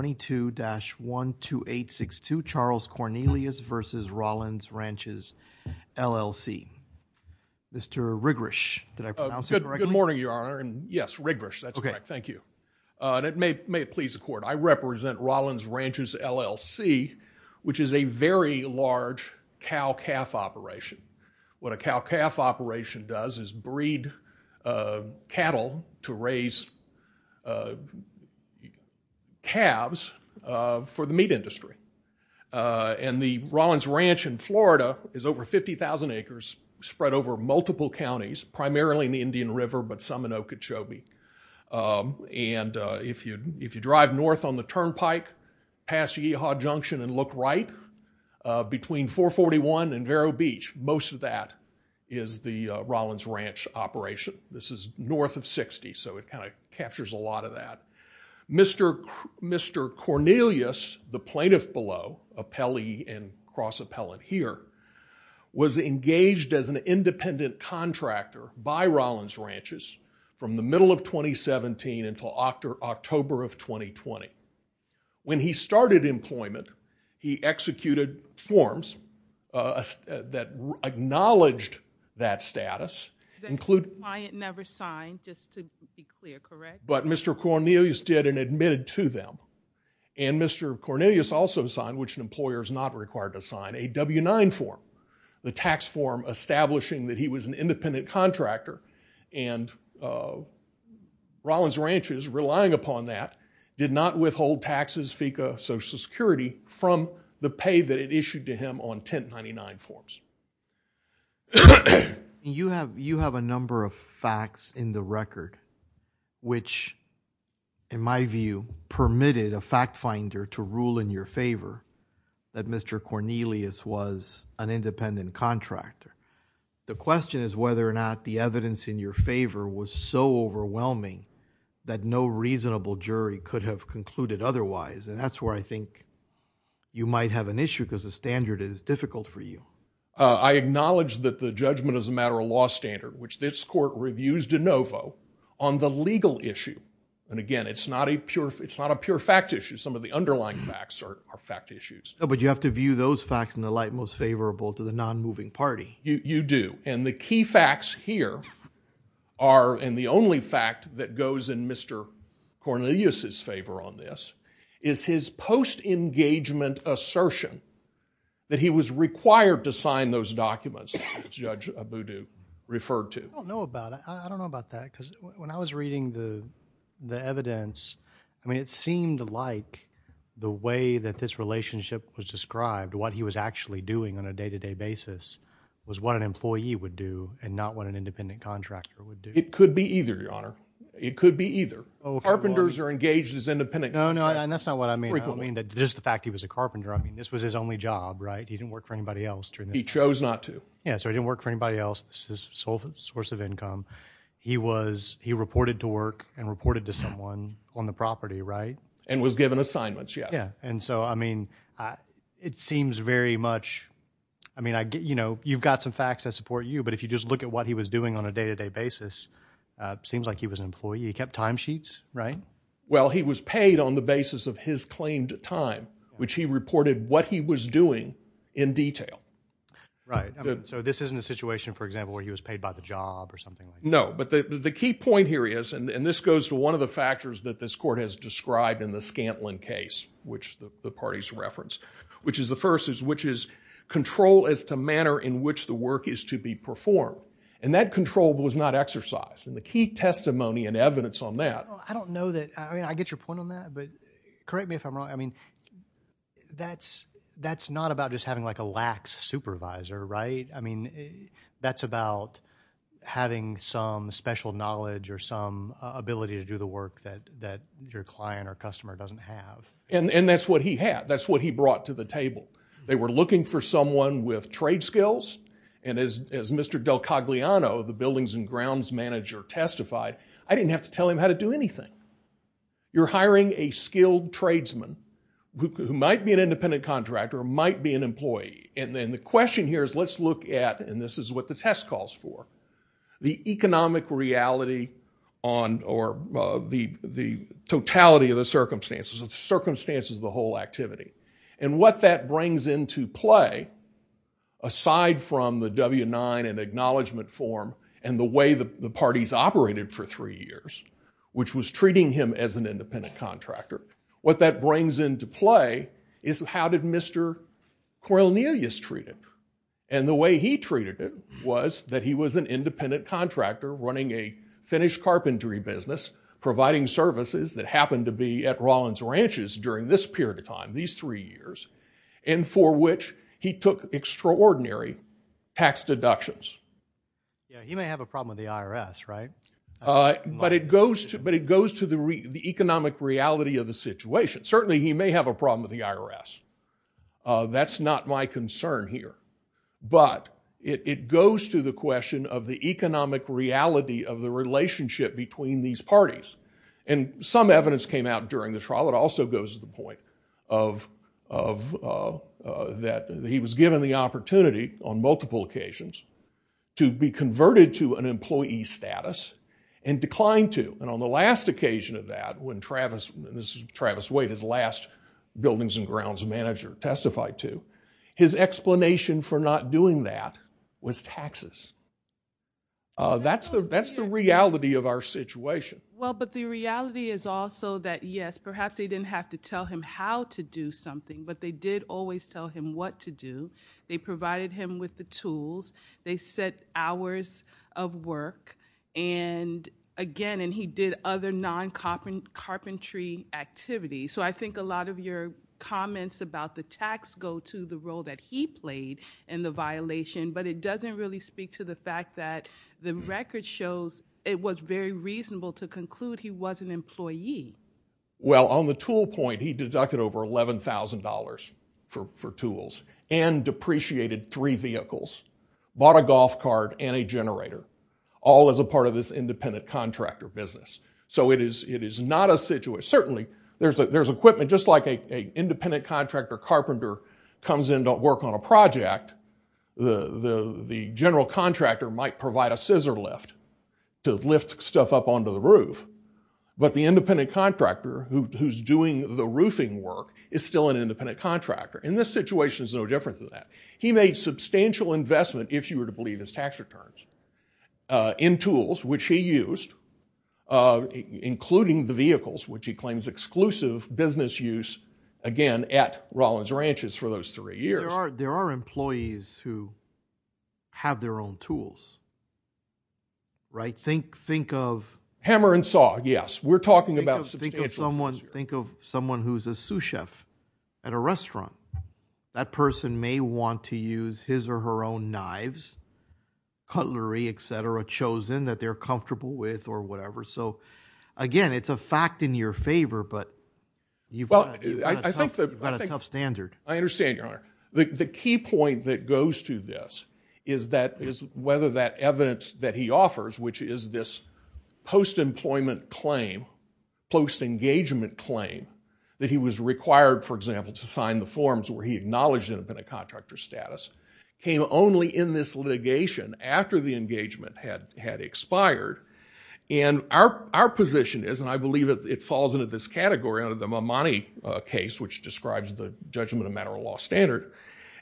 22-12862, Charles Cornelius v. Rollins Ranches, LLC. Mr. Rigrish, did I pronounce it correctly? Good morning, Your Honor. Yes, Rigrish, that's correct. Thank you. And may it please the Court, I represent Rollins Ranches, LLC, which is a very large cow-calf operation. What a cow-calf operation does is breed cattle to raise calves for the meat industry. And the Rollins Ranch in Florida is over 50,000 acres spread over multiple counties, primarily in the Indian River, but some in Okeechobee. And if you drive north on the turnpike past Yeehaw Junction and look right, between 441 and Invero Beach, most of that is the Rollins Ranch operation. This is north of 60, so it kind of captures a lot of that. Mr. Cornelius, the plaintiff below, Appellee and Cross Appellant here, was engaged as an independent contractor by Rollins Ranches from the middle of 2017 until October of 2020. When he started employment, he executed forms that acknowledged that status, including- The client never signed, just to be clear, correct? But Mr. Cornelius did and admitted to them. And Mr. Cornelius also signed, which an employer is not required to sign, a W-9 form, the tax form establishing that he was an independent contractor. And Rollins Ranches, relying upon that, did not withhold taxes, FECA, Social Security from the pay that it issued to him on 1099 forms. You have a number of facts in the record which, in my view, permitted a fact finder to rule in your favor that Mr. Cornelius was an independent contractor. The question is whether or not the evidence in your favor was so overwhelming that no reasonable jury could have concluded otherwise. And that's where I think you might have an issue because the standard is difficult for you. I acknowledge that the judgment is a matter of law standard, which this court reviews de novo on the legal issue. And again, it's not a pure fact issue. Some of the underlying facts are fact issues. But you have to view those facts in the light most favorable to the non-moving party. You do. And the key facts here are, and the only fact that goes in Mr. Cornelius' favor on this, is his post-engagement assertion that he was required to sign those documents that Judge Abudu referred to. I don't know about that. I don't know about that because when I was reading the evidence, I mean, it seemed like the way that this relationship was described, what he was actually doing on a day-to-day basis was what an employee would do and not what an independent contractor would do. It could be either, Your Honor. It could be either. Oh, okay. Carpenters are engaged as independent contractors. No, no. And that's not what I mean. Frequently. I don't mean just the fact he was a carpenter. I mean, this was his only job, right? He didn't work for anybody else during this period. He chose not to. Yeah, so he didn't work for anybody else. This is his sole source of income. He was, he reported to work and reported to someone on the property, right? And was given assignments. Yeah. Yeah. And so, I mean, it seems very much, I mean, I get, you know, you've got some facts that support you, but if you just look at what he was doing on a day-to-day basis, it seems like he was an employee. He kept timesheets, right? Well, he was paid on the basis of his claimed time, which he reported what he was doing in detail. Right. So this isn't a situation, for example, where he was paid by the job or something like that? No, but the key point here is, and this goes to one of the factors that this Court has described in the Scantlin case, which the parties referenced, which is the first is, which is control as to manner in which the work is to be performed. And that control was not exercised. And the key testimony and evidence on that. I don't know that, I mean, I get your point on that, but correct me if I'm wrong, I mean, that's not about just having like a lax supervisor, right? I mean, that's about having some special knowledge or some ability to do the work that you're client or customer doesn't have. And that's what he had. That's what he brought to the table. They were looking for someone with trade skills. And as Mr. Del Cagliano, the buildings and grounds manager, testified, I didn't have to tell him how to do anything. You're hiring a skilled tradesman who might be an independent contractor, might be an employee. And then the question here is, let's look at, and this is what the test calls for, the totality of the circumstances, the circumstances of the whole activity. And what that brings into play, aside from the W-9 and acknowledgment form and the way the parties operated for three years, which was treating him as an independent contractor, what that brings into play is how did Mr. Cornelius treat it? And the way he treated it was that he was an independent contractor running a finished providing services that happened to be at Rollins Ranches during this period of time, these three years, and for which he took extraordinary tax deductions. Yeah, he may have a problem with the IRS, right? But it goes to the economic reality of the situation. Certainly he may have a problem with the IRS. That's not my concern here. But it goes to the question of the economic reality of the relationship between these parties. And some evidence came out during the trial that also goes to the point of that he was given the opportunity on multiple occasions to be converted to an employee status and declined to. And on the last occasion of that, when Travis, this is Travis Waite, his last buildings and grounds manager testified to, his explanation for not doing that was taxes. That's the reality of our situation. Well, but the reality is also that, yes, perhaps they didn't have to tell him how to do something, but they did always tell him what to do. They provided him with the tools. They set hours of work. And again, and he did other non-carpentry activities. So I think a lot of your comments about the tax go to the role that he played in the violation, but it doesn't really speak to the fact that the record shows it was very reasonable to conclude he was an employee. Well, on the tool point, he deducted over $11,000 for tools and depreciated three vehicles, bought a golf cart and a generator, all as a part of this independent contractor business. So it is not a situation, certainly there's equipment, just like an independent contractor carpenter comes in to work on a project, the general contractor might provide a scissor lift to lift stuff up onto the roof. But the independent contractor who's doing the roofing work is still an independent contractor. And this situation is no different than that. He made substantial investment, if you were to believe his tax returns, in tools, which he used, including the vehicles, which he claims exclusive business use, again, at Rollins Ranches for those three years. There are employees who have their own tools, right? Hammer and saw, yes. We're talking about substantial tools here. That person may want to use his or her own knives, cutlery, et cetera, chosen that they're comfortable with or whatever. So again, it's a fact in your favor, but you've got a tough standard. I understand, Your Honor. The key point that goes to this is whether that evidence that he offers, which is this post-employment claim, post-engagement claim, that he was required, for example, to sign the forms where he acknowledged independent contractor status, came only in this litigation after the engagement had expired. And our position is, and I believe it falls into this category under the Mamani case, which describes the judgment of matter-of-law standard,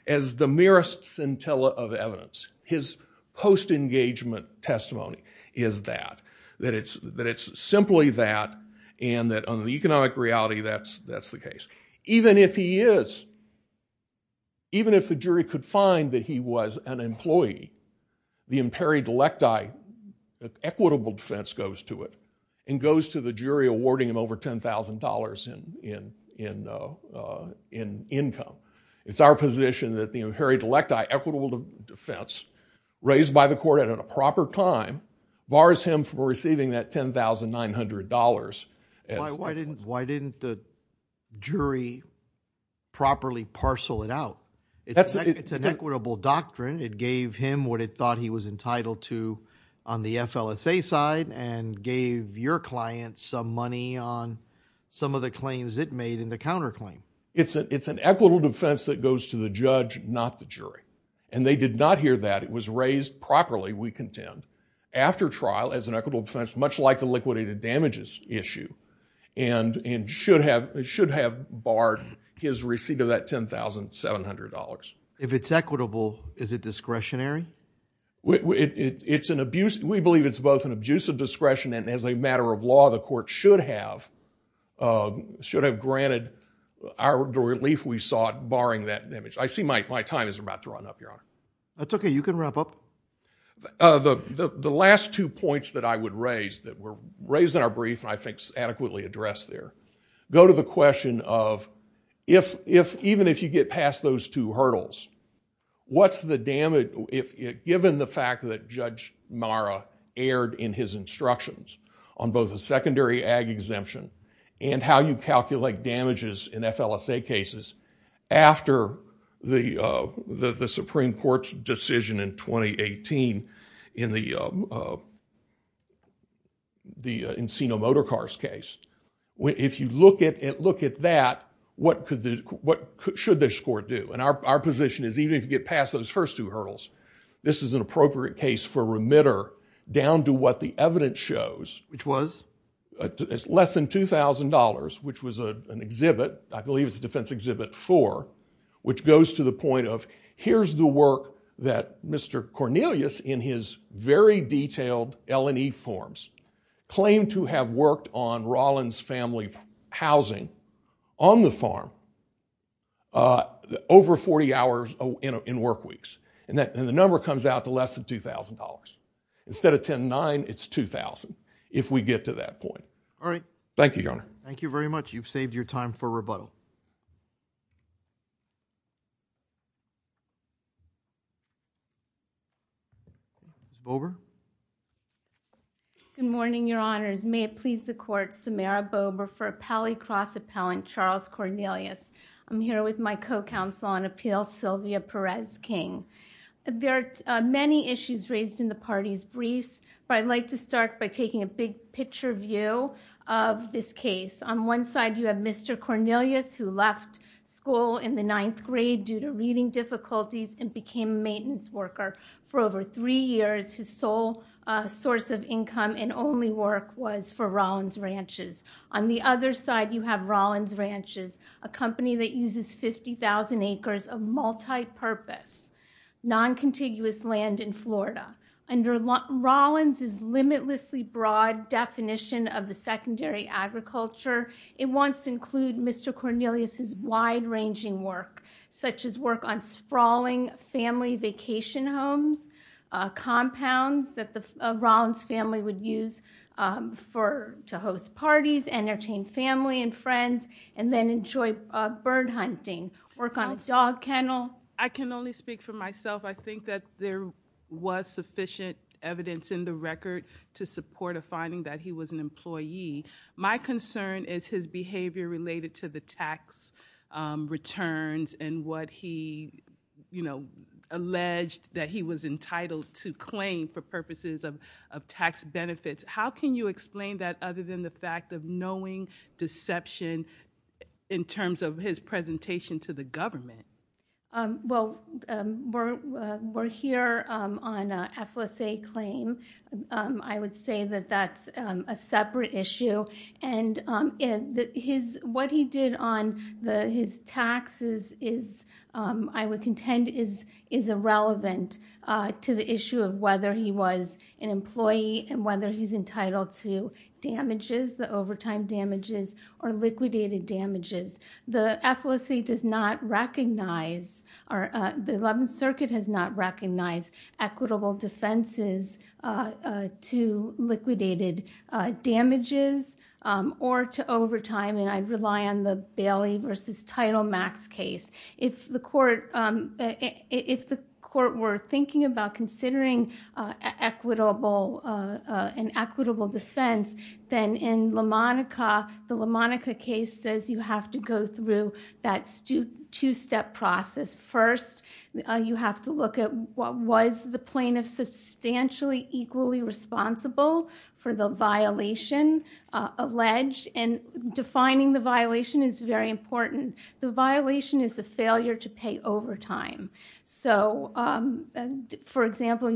as the merest scintilla of evidence. His post-engagement testimony is that, that it's simply that, and that under the economic reality, that's the case. Even if he is, even if the jury could find that he was an employee, the imperi delecti, equitable defense goes to it, and goes to the jury awarding him over $10,000 in income. It's our position that the imperi delecti, equitable defense, raised by the court at a proper time, bars him from receiving that $10,900. Why didn't the jury properly parcel it out? It's an equitable doctrine. It gave him what it thought he was entitled to on the FLSA side, and gave your client some money on some of the claims it made in the counterclaim. It's an equitable defense that goes to the judge, not the jury. And they did not hear that. It was raised properly, we contend, after trial as an equitable defense, much like the liquidated damages issue, and should have barred his receipt of that $10,700. If it's equitable, is it discretionary? We believe it's both an abusive discretion, and as a matter of law, the court should have granted our relief we sought, barring that damage. I see my time is about to run up, Your Honor. That's okay, you can wrap up. The last two points that I would raise, that were raised in our brief, and I think adequately addressed there, go to the question of, even if you get past those two hurdles, what's the damage, given the fact that Judge Marra erred in his instructions on both a secondary ag exemption and how you calculate damages in FLSA cases, after the Supreme Court's decision in 2018, in the Encino Motor Cars case. If you look at that, what should this court do? Our position is, even if you get past those first two hurdles, this is an appropriate case for remitter, down to what the evidence shows. Which was? It's less than $2,000, which was an exhibit, I believe it was a defense exhibit four, which Mr. Cornelius, in his very detailed L&E forms, claimed to have worked on Rollins family housing on the farm, over 40 hours in work weeks. The number comes out to less than $2,000. Instead of 10-9, it's $2,000, if we get to that point. Thank you, Your Honor. Thank you very much. You've saved your time for rebuttal. Ms. Bober? Good morning, Your Honors. May it please the Court, Samara Bober for Appellee Cross Appellant, Charles Cornelius. I'm here with my co-counsel on appeals, Sylvia Perez King. There are many issues raised in the party's briefs, but I'd like to start by taking a big picture view of this case. On one side, you have Mr. Cornelius, who left school in the ninth grade due to reading difficulties and became a maintenance worker. For over three years, his sole source of income and only work was for Rollins Ranches. On the other side, you have Rollins Ranches, a company that uses 50,000 acres of multi-purpose, non-contiguous land in Florida. Under Rollins' limitlessly broad definition of the secondary agriculture, it wants to housing, family vacation homes, compounds that the Rollins family would use to host parties, entertain family and friends, and then enjoy bird hunting, work on a dog kennel. I can only speak for myself. I think that there was sufficient evidence in the record to support a finding that he was an employee. My concern is his behavior related to the tax returns and what he alleged that he was entitled to claim for purposes of tax benefits. How can you explain that other than the fact of knowing deception in terms of his presentation to the government? Well, we're here on an FLSA claim. I would say that that's a separate issue. What he did on his taxes, I would contend, is irrelevant to the issue of whether he was an employee and whether he's entitled to damages, the overtime damages, or liquidated damages. The FLSA does not recognize or the Eleventh Circuit has not recognized equitable defenses to liquidated damages or to overtime, and I rely on the Bailey versus Title Max case. If the court were thinking about considering an equitable defense, then in LaMonica, the LaMonica case says you have to go through that two-step process. First, you have to look at what was the plaintiff substantially equally responsible for the violation alleged, and defining the violation is very important. The violation is the failure to pay overtime. For example,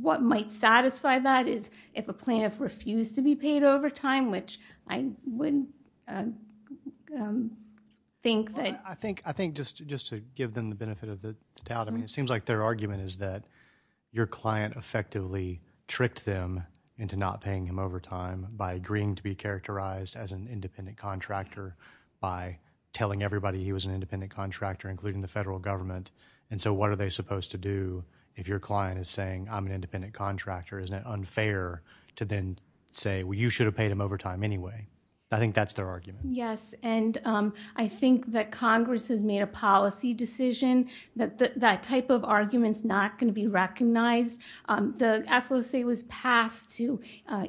what might satisfy that is if a plaintiff refused to be paid overtime, which I wouldn't think that... I think just to give them the benefit of the doubt, it seems like their argument is that your client effectively tricked them into not paying him overtime by agreeing to be characterized as an independent contractor by telling everybody he was an independent contractor, including the federal government, and so what are they supposed to do if your client is saying, I'm an independent contractor? Isn't it unfair to then say, well, you should have paid him overtime anyway? I think that's their argument. Yes, and I think that Congress has made a policy decision that that type of argument is not going to be recognized. The FLSA was passed to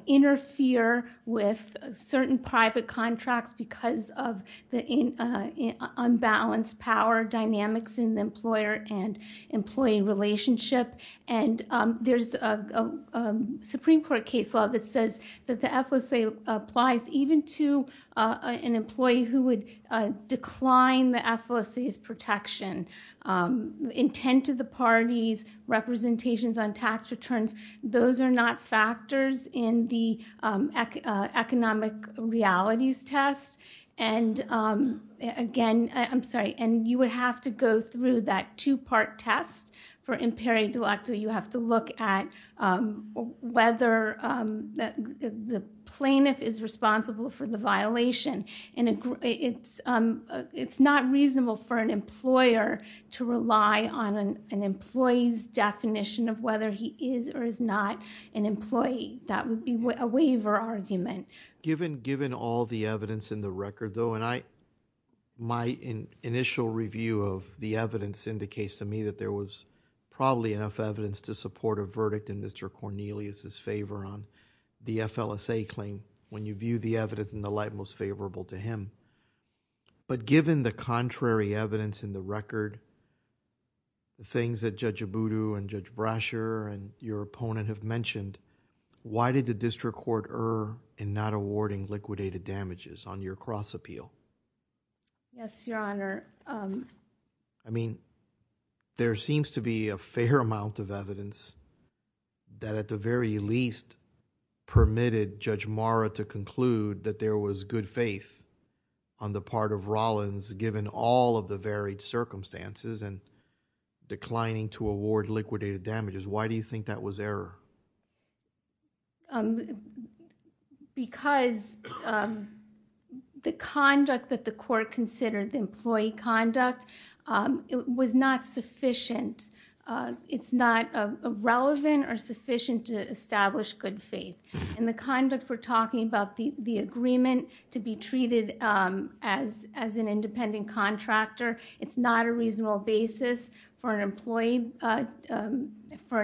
interfere with certain private contracts because of the unbalanced power dynamics in the employer and employee relationship, and there's a Supreme Court case law that says that the FLSA applies even to an employee who would decline the FLSA's protection. Intent of the parties, representations on tax returns, those are not factors in the economic realities test, and you would have to go through that two-part test for imperio delacto. You have to look at whether the plaintiff is responsible for the violation. It's not reasonable for an employer to rely on an employee's definition of whether he is or is not an employee. That would be a waiver argument. Given all the evidence in the record though, and my initial review of the evidence indicates to me that there was probably enough evidence to support a verdict in Mr. Cornelius' favor on the FLSA claim when you view the evidence in the light most favorable to him, but given the contrary evidence in the record, the things that Judge Abudu and Judge Brasher and your opponent have mentioned, why did the district court err in not awarding liquidated damages on your cross appeal? Yes, Your Honor. I mean, there seems to be a fair amount of evidence that at the very least permitted Judge Marra to conclude that there was good faith on the part of Rollins given all of the varied circumstances and declining to award liquidated damages. Why do you think that was error? Because the conduct that the court considered, the employee conduct, was not sufficient. It's not relevant or sufficient to establish good faith. In the conduct, we're talking about the agreement to be treated as an independent contractor. It's not a reasonable basis for an employee, for an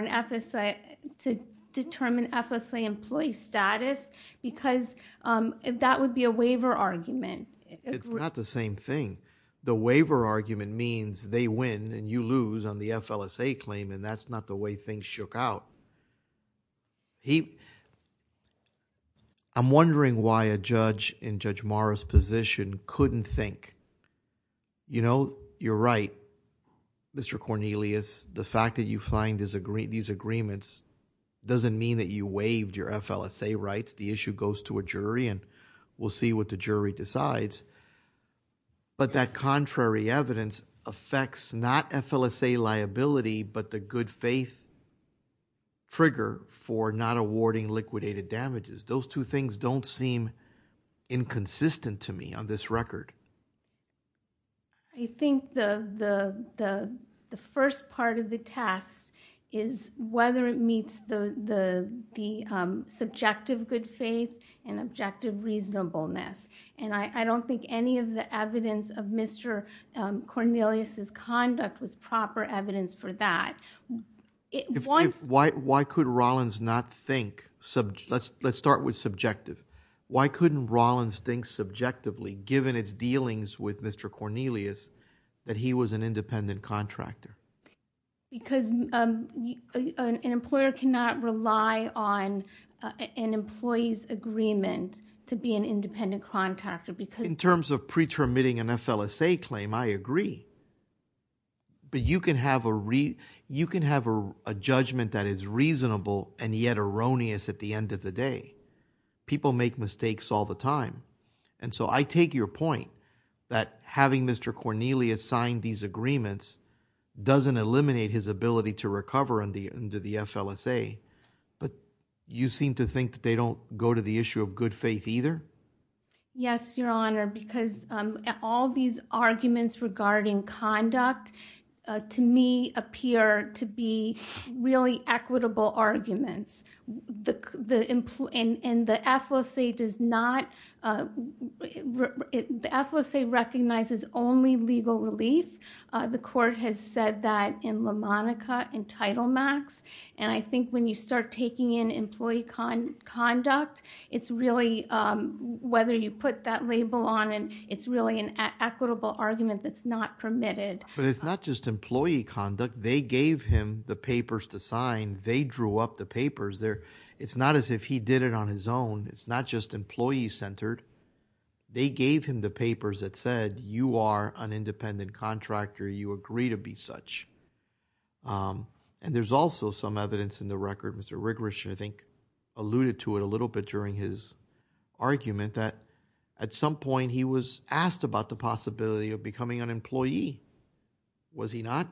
FSA to determine FSA employee status because that would be a waiver argument. It's not the same thing. The waiver argument means they win and you lose on the FLSA claim and that's not the way things shook out. I'm wondering why a judge in Judge Marra's position couldn't think, you know, you're right, Mr. Cornelius, the fact that you find these agreements doesn't mean that you waived your FLSA rights. The issue goes to a jury and we'll see what the jury decides, but that for not awarding liquidated damages. Those two things don't seem inconsistent to me on this record. I think the first part of the test is whether it meets the subjective good faith and objective reasonableness. And I don't think any of the evidence of Mr. Cornelius' conduct was proper evidence for that. Why could Rollins not think, let's start with subjective. Why couldn't Rollins think subjectively given its dealings with Mr. Cornelius that he was an independent contractor? Because an employer cannot rely on an employee's agreement to be an independent contractor. In terms of pretermitting an FLSA claim, I agree. But you can have a judgment that is reasonable and yet erroneous at the end of the day. People make mistakes all the time. And so I take your point that having Mr. Cornelius sign these agreements doesn't eliminate his ability to recover under the FLSA, but you seem to think that they don't go to the issue of good faith either? Yes, Your Honor, because all these arguments regarding conduct, to me, appear to be really equitable arguments. And the FLSA does not, the FLSA recognizes only legal relief. The court has said that in LaMonica and Title Max. And I think when you start taking in employee conduct, it's really whether you put that label on it, it's really an equitable argument that's not permitted. But it's not just employee conduct. They gave him the papers to sign. They drew up the papers. It's not as if he did it on his own. It's not just employee-centered. They gave him the papers that said you are an independent contractor. You agree to be such. And there's also some evidence in the record. Mr. Rigorich, I think, alluded to it a little bit during his argument that at some point he was asked about the possibility of becoming an employee. Was he not?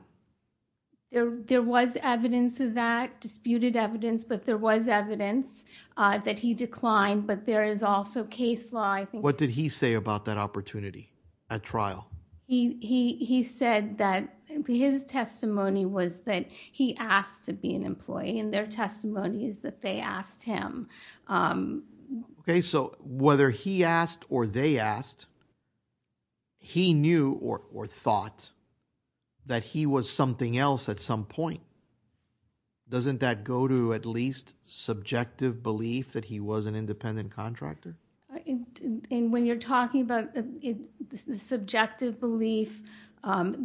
There was evidence of that, disputed evidence, but there was evidence that he declined. But there is also case law. What did he say about that opportunity at trial? He said that his testimony was that he asked to be an employee and their testimony is that they asked him. Okay, so whether he asked or they asked, he knew or thought that he was something else at some point. Doesn't that go to at least subjective belief that he was an independent contractor? When you're talking about the subjective belief,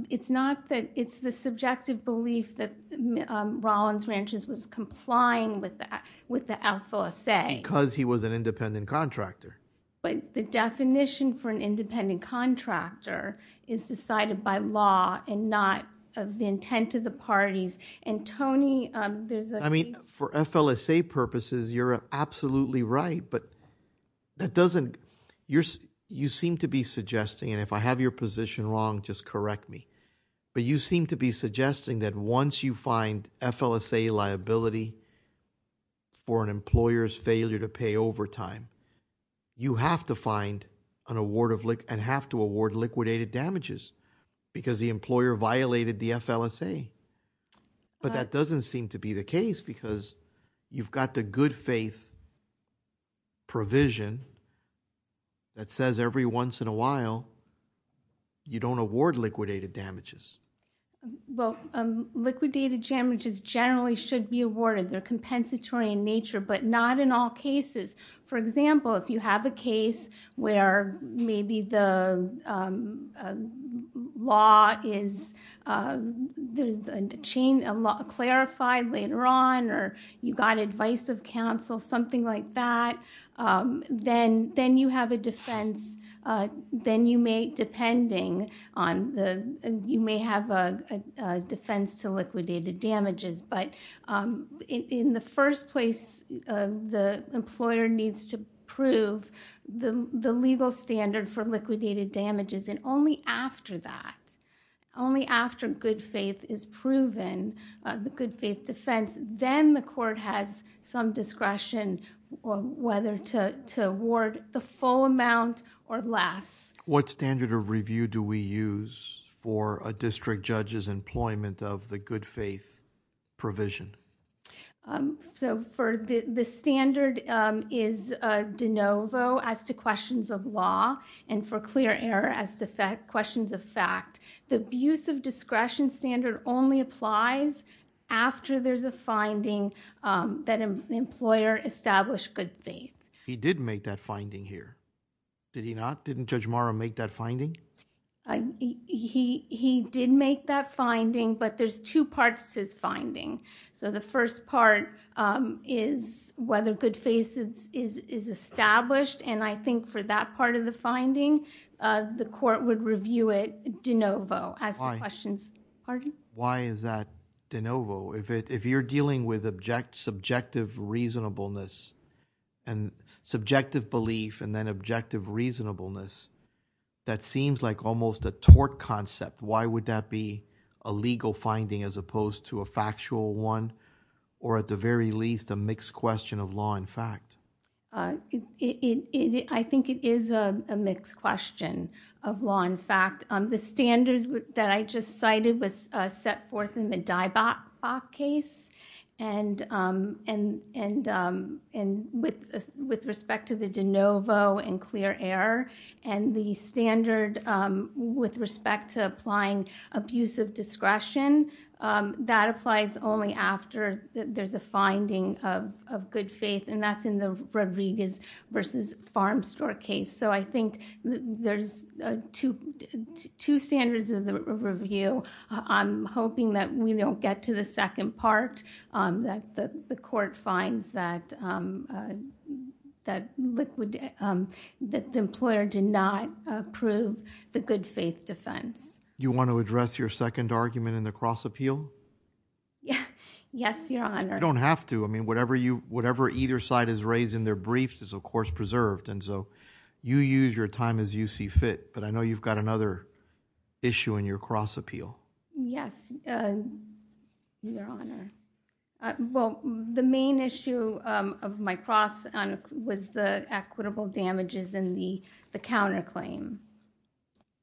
it's not that it's the subjective belief that Rollins Ranchers was complying with the FLSA. Because he was an independent contractor. But the definition for an independent contractor is decided by law and not the intent of the parties. And, Tony, there's a case. For FLSA purposes, you're absolutely right, but that doesn't, you seem to be suggesting, and if I have your position wrong, just correct me. But you seem to be suggesting that once you find FLSA liability for an employer's failure to pay overtime, you have to find and have to award liquidated damages because the employer violated the FLSA. But that doesn't seem to be the case because you've got the good faith provision that says every once in a while, you don't award liquidated damages. Well, liquidated damages generally should be awarded. They're compensatory in nature, but not in all cases. For example, if you have a case where maybe the law is, there's a chain, a law clarified later on, or you got advice of counsel, something like that, then you have a defense. Then you may, depending on the, you may have a defense to liquidated damages. But in the first place, the employer needs to prove the legal standard for liquidated damages. Only after that, only after good faith is proven, the good faith defense, then the court has some discretion on whether to award the full amount or less. What standard of review do we use for a district judge's employment of the good faith provision? The standard is de novo as to questions of law and for clear error as to questions of fact. The abuse of discretion standard only applies after there's a finding that an employer established good faith. He did make that finding here. Did he not? Didn't Judge Morrow make that finding? He did make that finding, but there's two parts to his finding. The first part is whether good faith is established. I think for that part of the finding, the court would review it de novo as to questions. Pardon? Why is that de novo? If you're dealing with subjective reasonableness and subjective belief and then objective reasonableness, that seems like almost a tort concept. Why would that be a legal finding as opposed to a factual one or at the very least a mixed question of law and fact? I think it is a mixed question of law and fact. The standards that I just cited was set forth in the Dybok case and with respect to the de novo and clear error and the standard with respect to applying abuse of discretion, that applies only after there's a finding of good faith and that's in the Rodriguez versus Farm Store case. I think there's two standards of the review. I'm hoping that we don't get to the second part, that the court finds that the employer did not approve the good faith defense. You want to address your second argument in the cross appeal? Yes, Your Honor. You don't have to. Whatever either side has raised in their briefs is, of course, preserved. You use your time as you see fit, but I know you've got another issue in your cross appeal. Yes, Your Honor. The main issue of my cross was the equitable damages in the counterclaim.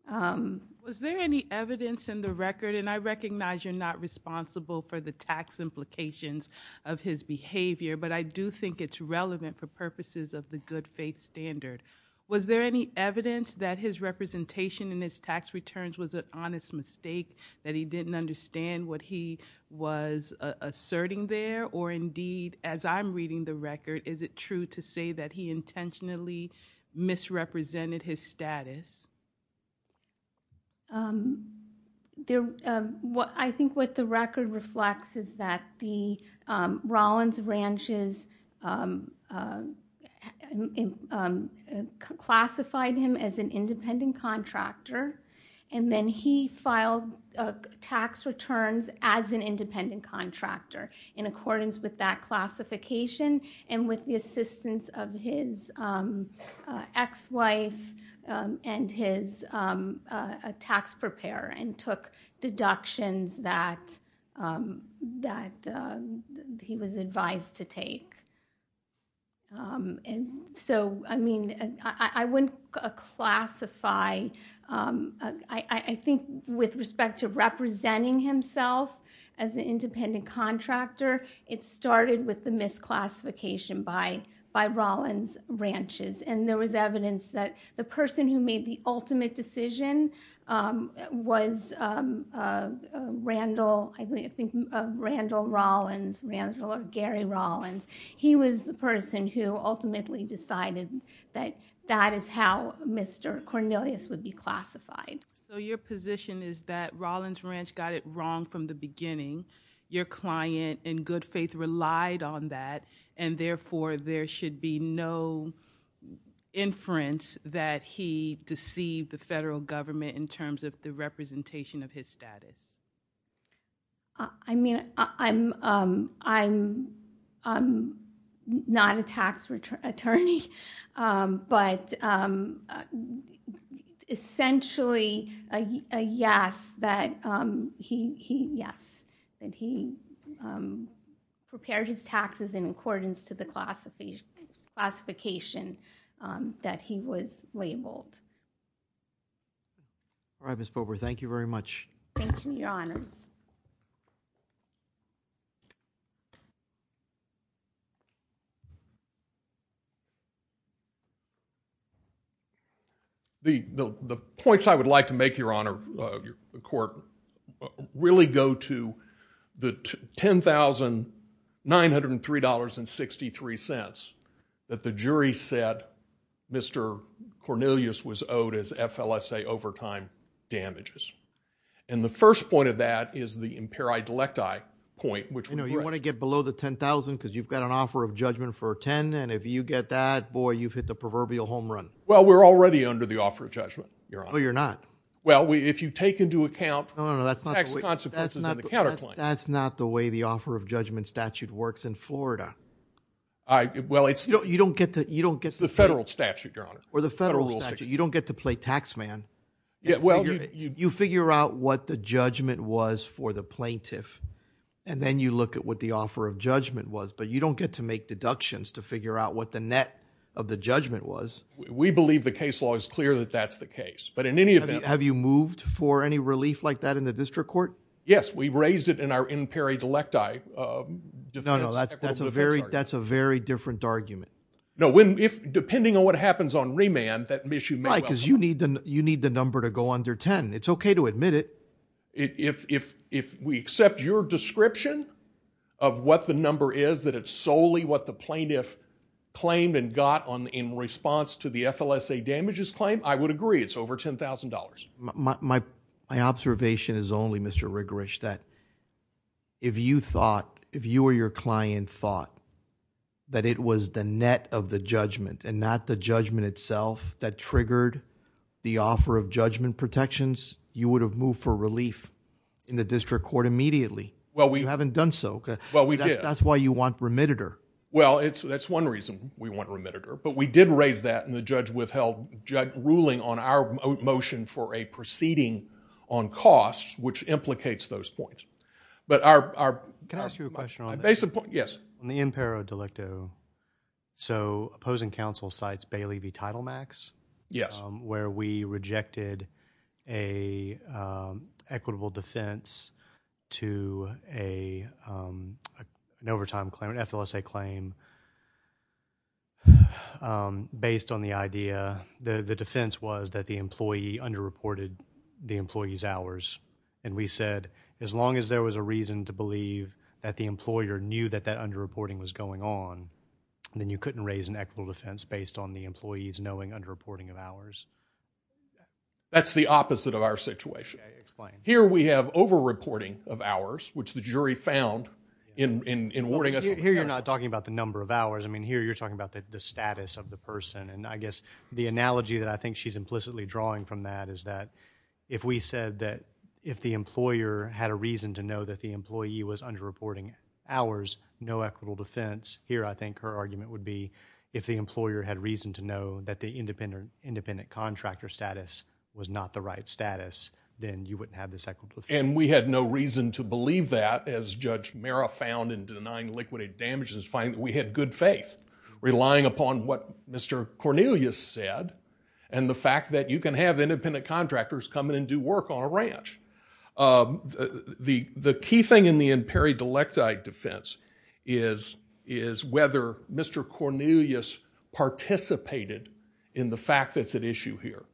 Was there any evidence in the record, and I recognize you're not responsible for the tax implications of his behavior, but I do think it's relevant for purposes of the good faith standard. Was there any evidence that his representation in his tax returns was an honest mistake, that he didn't understand what he was asserting there? Or, indeed, as I'm reading the record, is it true to say that he intentionally misrepresented his status? I think what the record reflects is that the Rollins ranches classified him as an independent contractor, and then he filed tax returns as an independent contractor in accordance with that classification and with the assistance of his ex-wife and his tax preparer and took deductions that he was advised to take. So, I mean, I wouldn't classify. I think with respect to representing himself as an independent contractor, it started with the misclassification by Rollins ranches, and there was evidence that the person who made the ultimate decision was Randall Rollins, or Gary Rollins. He was the person who ultimately decided that that is how Mr. Cornelius would be classified. So your position is that Rollins Ranch got it wrong from the beginning, your client in good faith relied on that, and therefore there should be no inference that he deceived the federal government in terms of the representation of his status. I mean, I'm not a tax attorney, but essentially, yes, that he prepared his taxes in accordance to the classification that he was labeled. All right, Ms. Bober, thank you very much. Thank you, Your Honors. The points I would like to make, Your Honor, Your Court, really go to the $10,903.63 that the jury said Mr. Cornelius was owed as FLSA overtime damages, and the first point of that is the imperi delecti point, which was correct. You know, you want to get below the $10,000 and if you get that, boy, you've hit the proverbial home run. Well, we're already under the offer of judgment, Your Honor. No, you're not. Well, if you take into account tax consequences and the counterclaims. That's not the way the offer of judgment statute works in Florida. It's the federal statute, Your Honor. Or the federal statute. You don't get to play tax man. You figure out what the judgment was for the plaintiff, and then you look at what the offer of judgment was, but you don't get to make deductions to figure out what the net of the judgment was. We believe the case law is clear that that's the case, but in any event. Have you moved for any relief like that in the district court? Yes, we raised it in our imperi delecti defense. No, no, that's a very different argument. No, depending on what happens on remand, that issue may well come up. Right, because you need the number to go under $10,000. It's okay to admit it. If we accept your description of what the number is, that it's solely what the plaintiff claimed and got in response to the FLSA damages claim, I would agree. It's over $10,000. My observation is only, Mr. Rigorich, that if you thought, if you or your client thought that it was the net of the judgment and not the judgment itself that triggered the offer of judgment protections, you would have moved for relief in the district court immediately. You haven't done so. Well, we did. That's why you want remittitor. Well, that's one reason we want remittitor, but we did raise that in the judge-withheld ruling on our motion for a proceeding on cost, which implicates those points. Can I ask you a question on that? Yes. On the imperi delecto, so opposing counsel cites Bailey v. Titlemax, where we rejected an equitable defense to an overtime claim, an FLSA claim, based on the idea the defense was that the employee underreported the employee's hours, and we said, as long as there was a reason to believe that the employer knew that that underreporting was going on, then you couldn't raise an equitable defense based on the employee's knowing underreporting of hours. That's the opposite of our situation. Okay, explain. Here we have overreporting of hours, which the jury found in awarding us. Here you're not talking about the number of hours. I mean, here you're talking about the status of the person, and I guess the analogy that I think she's implicitly drawing from that is that if we said that if the employer had a reason to know that the employee was underreporting hours, no equitable defense, here I think her argument would be if the employer had reason to know that the independent contractor status was not the right status, then you wouldn't have this equitable defense. And we had no reason to believe that, as Judge Mara found in denying liquidated damages, finding that we had good faith, relying upon what Mr. Cornelius said and the fact that you can have independent contractors come in and do work on a ranch. The key thing in the imperi-delecta defense is whether Mr. Cornelius participated in the fact that's at issue here.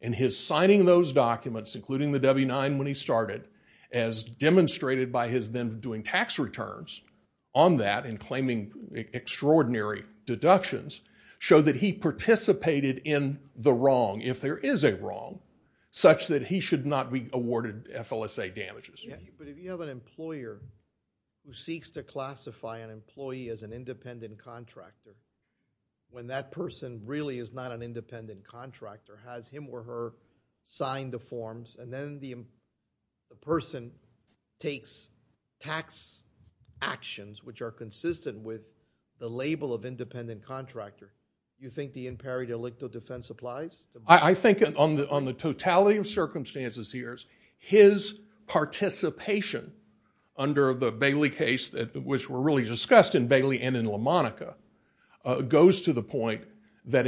And his signing of those documents, including the W-9 when he started, as demonstrated by his then doing tax returns on that and claiming extraordinary deductions, showed that he participated in the wrong, if there is a wrong, such that he should not be awarded FLSA damages. But if you have an employer who seeks to classify an employee as an independent contractor, when that person really is not an independent contractor, has him or her sign the forms, and then the person takes tax actions which are consistent with the label of independent contractor, do you think the imperi-delecta defense applies? I think on the totality of circumstances here, his participation under the Bailey case, which were really discussed in Bailey and in LaMonica, goes to the point that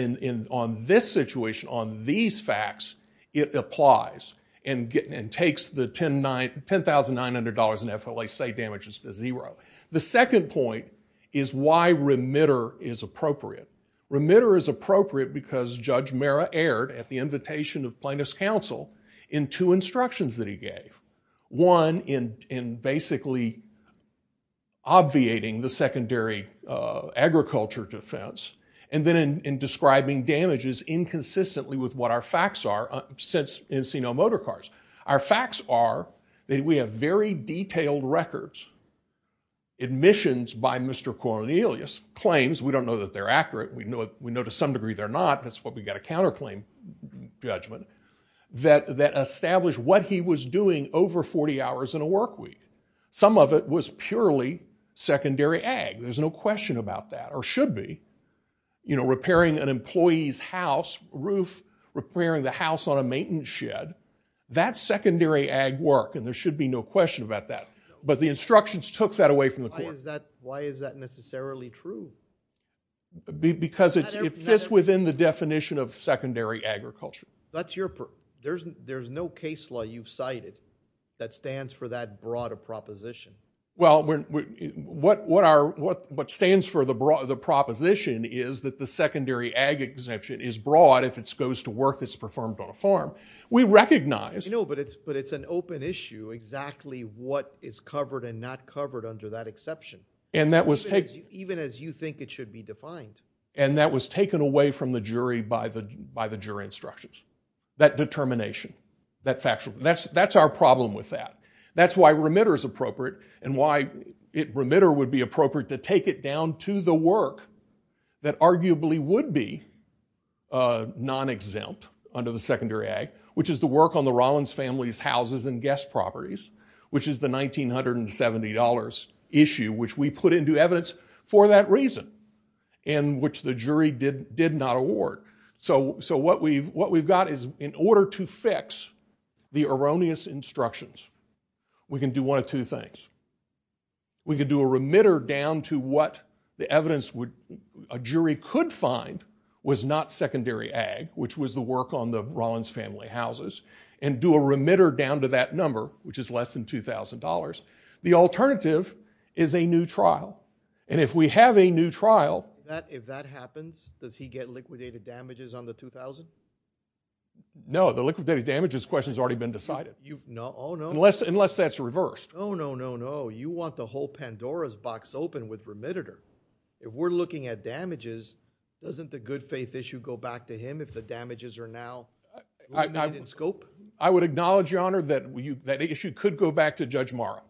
on this situation, on these facts, it applies and takes the $10,900 in FLSA damages to zero. The second point is why remitter is appropriate. Remitter is appropriate because Judge Mera aired at the invitation of plaintiff's counsel in two instructions that he gave. One in basically obviating the secondary agriculture defense and then in describing damages inconsistently with what our facts are since Encino Motor Cars. Our facts are that we have very detailed records. Admissions by Mr. Cornelius claims, we don't know that they're accurate. We know to some degree they're not. That's why we got a counterclaim judgment that established what he was doing over 40 hours in a work week. Some of it was purely secondary ag. There's no question about that or should be. You know, repairing an employee's house roof, repairing the house on a maintenance shed, that's secondary ag work and there should be no question about that. But the instructions took that away from the court. Why is that necessarily true? Because it fits within the definition of secondary agriculture. There's no case law you've cited that stands for that broader proposition. Well, what stands for the proposition is that the secondary ag exemption is broad if it goes to work that's performed on a farm. We recognize... No, but it's an open issue exactly what is covered and not covered under that exception, even as you think it should be defined. And that was taken away from the jury by the jury instructions, that determination, that factual... That's our problem with that. That's why remitter is appropriate and why remitter would be appropriate to take it down to the work that arguably would be non-exempt under the secondary ag, which is the work on the Rollins family's houses and guest properties, which is the $1,970 issue, which we put into evidence for that reason and which the jury did not award. So what we've got is, in order to fix the erroneous instructions, we can do one of two things. We can do a remitter down to what the evidence a jury could find was not secondary ag, which was the work on the Rollins family houses, and do a remitter down to that number, which is less than $2,000. The alternative is a new trial. And if we have a new trial... If that happens, does he get liquidated damages on the $2,000? No, the liquidated damages question has already been decided. Oh, no? Unless that's reversed. Oh, no, no, no. You want the whole Pandora's box open with remitter. If we're looking at damages, if the damages are now remitted in scope? I would acknowledge, Your Honor, that issue could go back to Judge Morrow.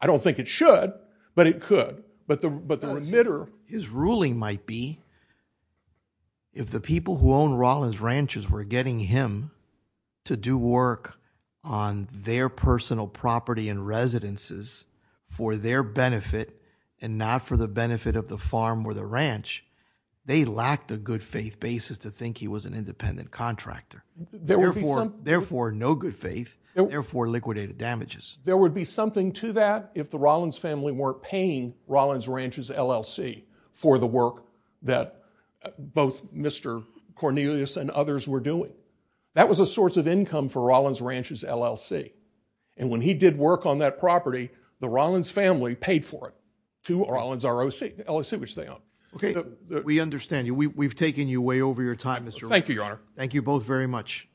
I don't think it should, but it could. But the remitter... His ruling might be, if the people who own Rollins Ranch were getting him to do work on their personal property and residences for their benefit and not for the benefit of the farm or the ranch, they lacked a good faith basis to think he was an independent contractor. Therefore, no good faith. Therefore, liquidated damages. There would be something to that if the Rollins family weren't paying Rollins Ranch's LLC for the work that both Mr. Cornelius and others were doing. That was a source of income for Rollins Ranch's LLC. And when he did work on that property, the Rollins family paid for it to Rollins ROC, LLC, which they own. Okay, we understand you. We've taken you way over your time, Mr. Rowe. Thank you, Your Honor. Thank you both very much. Thank you.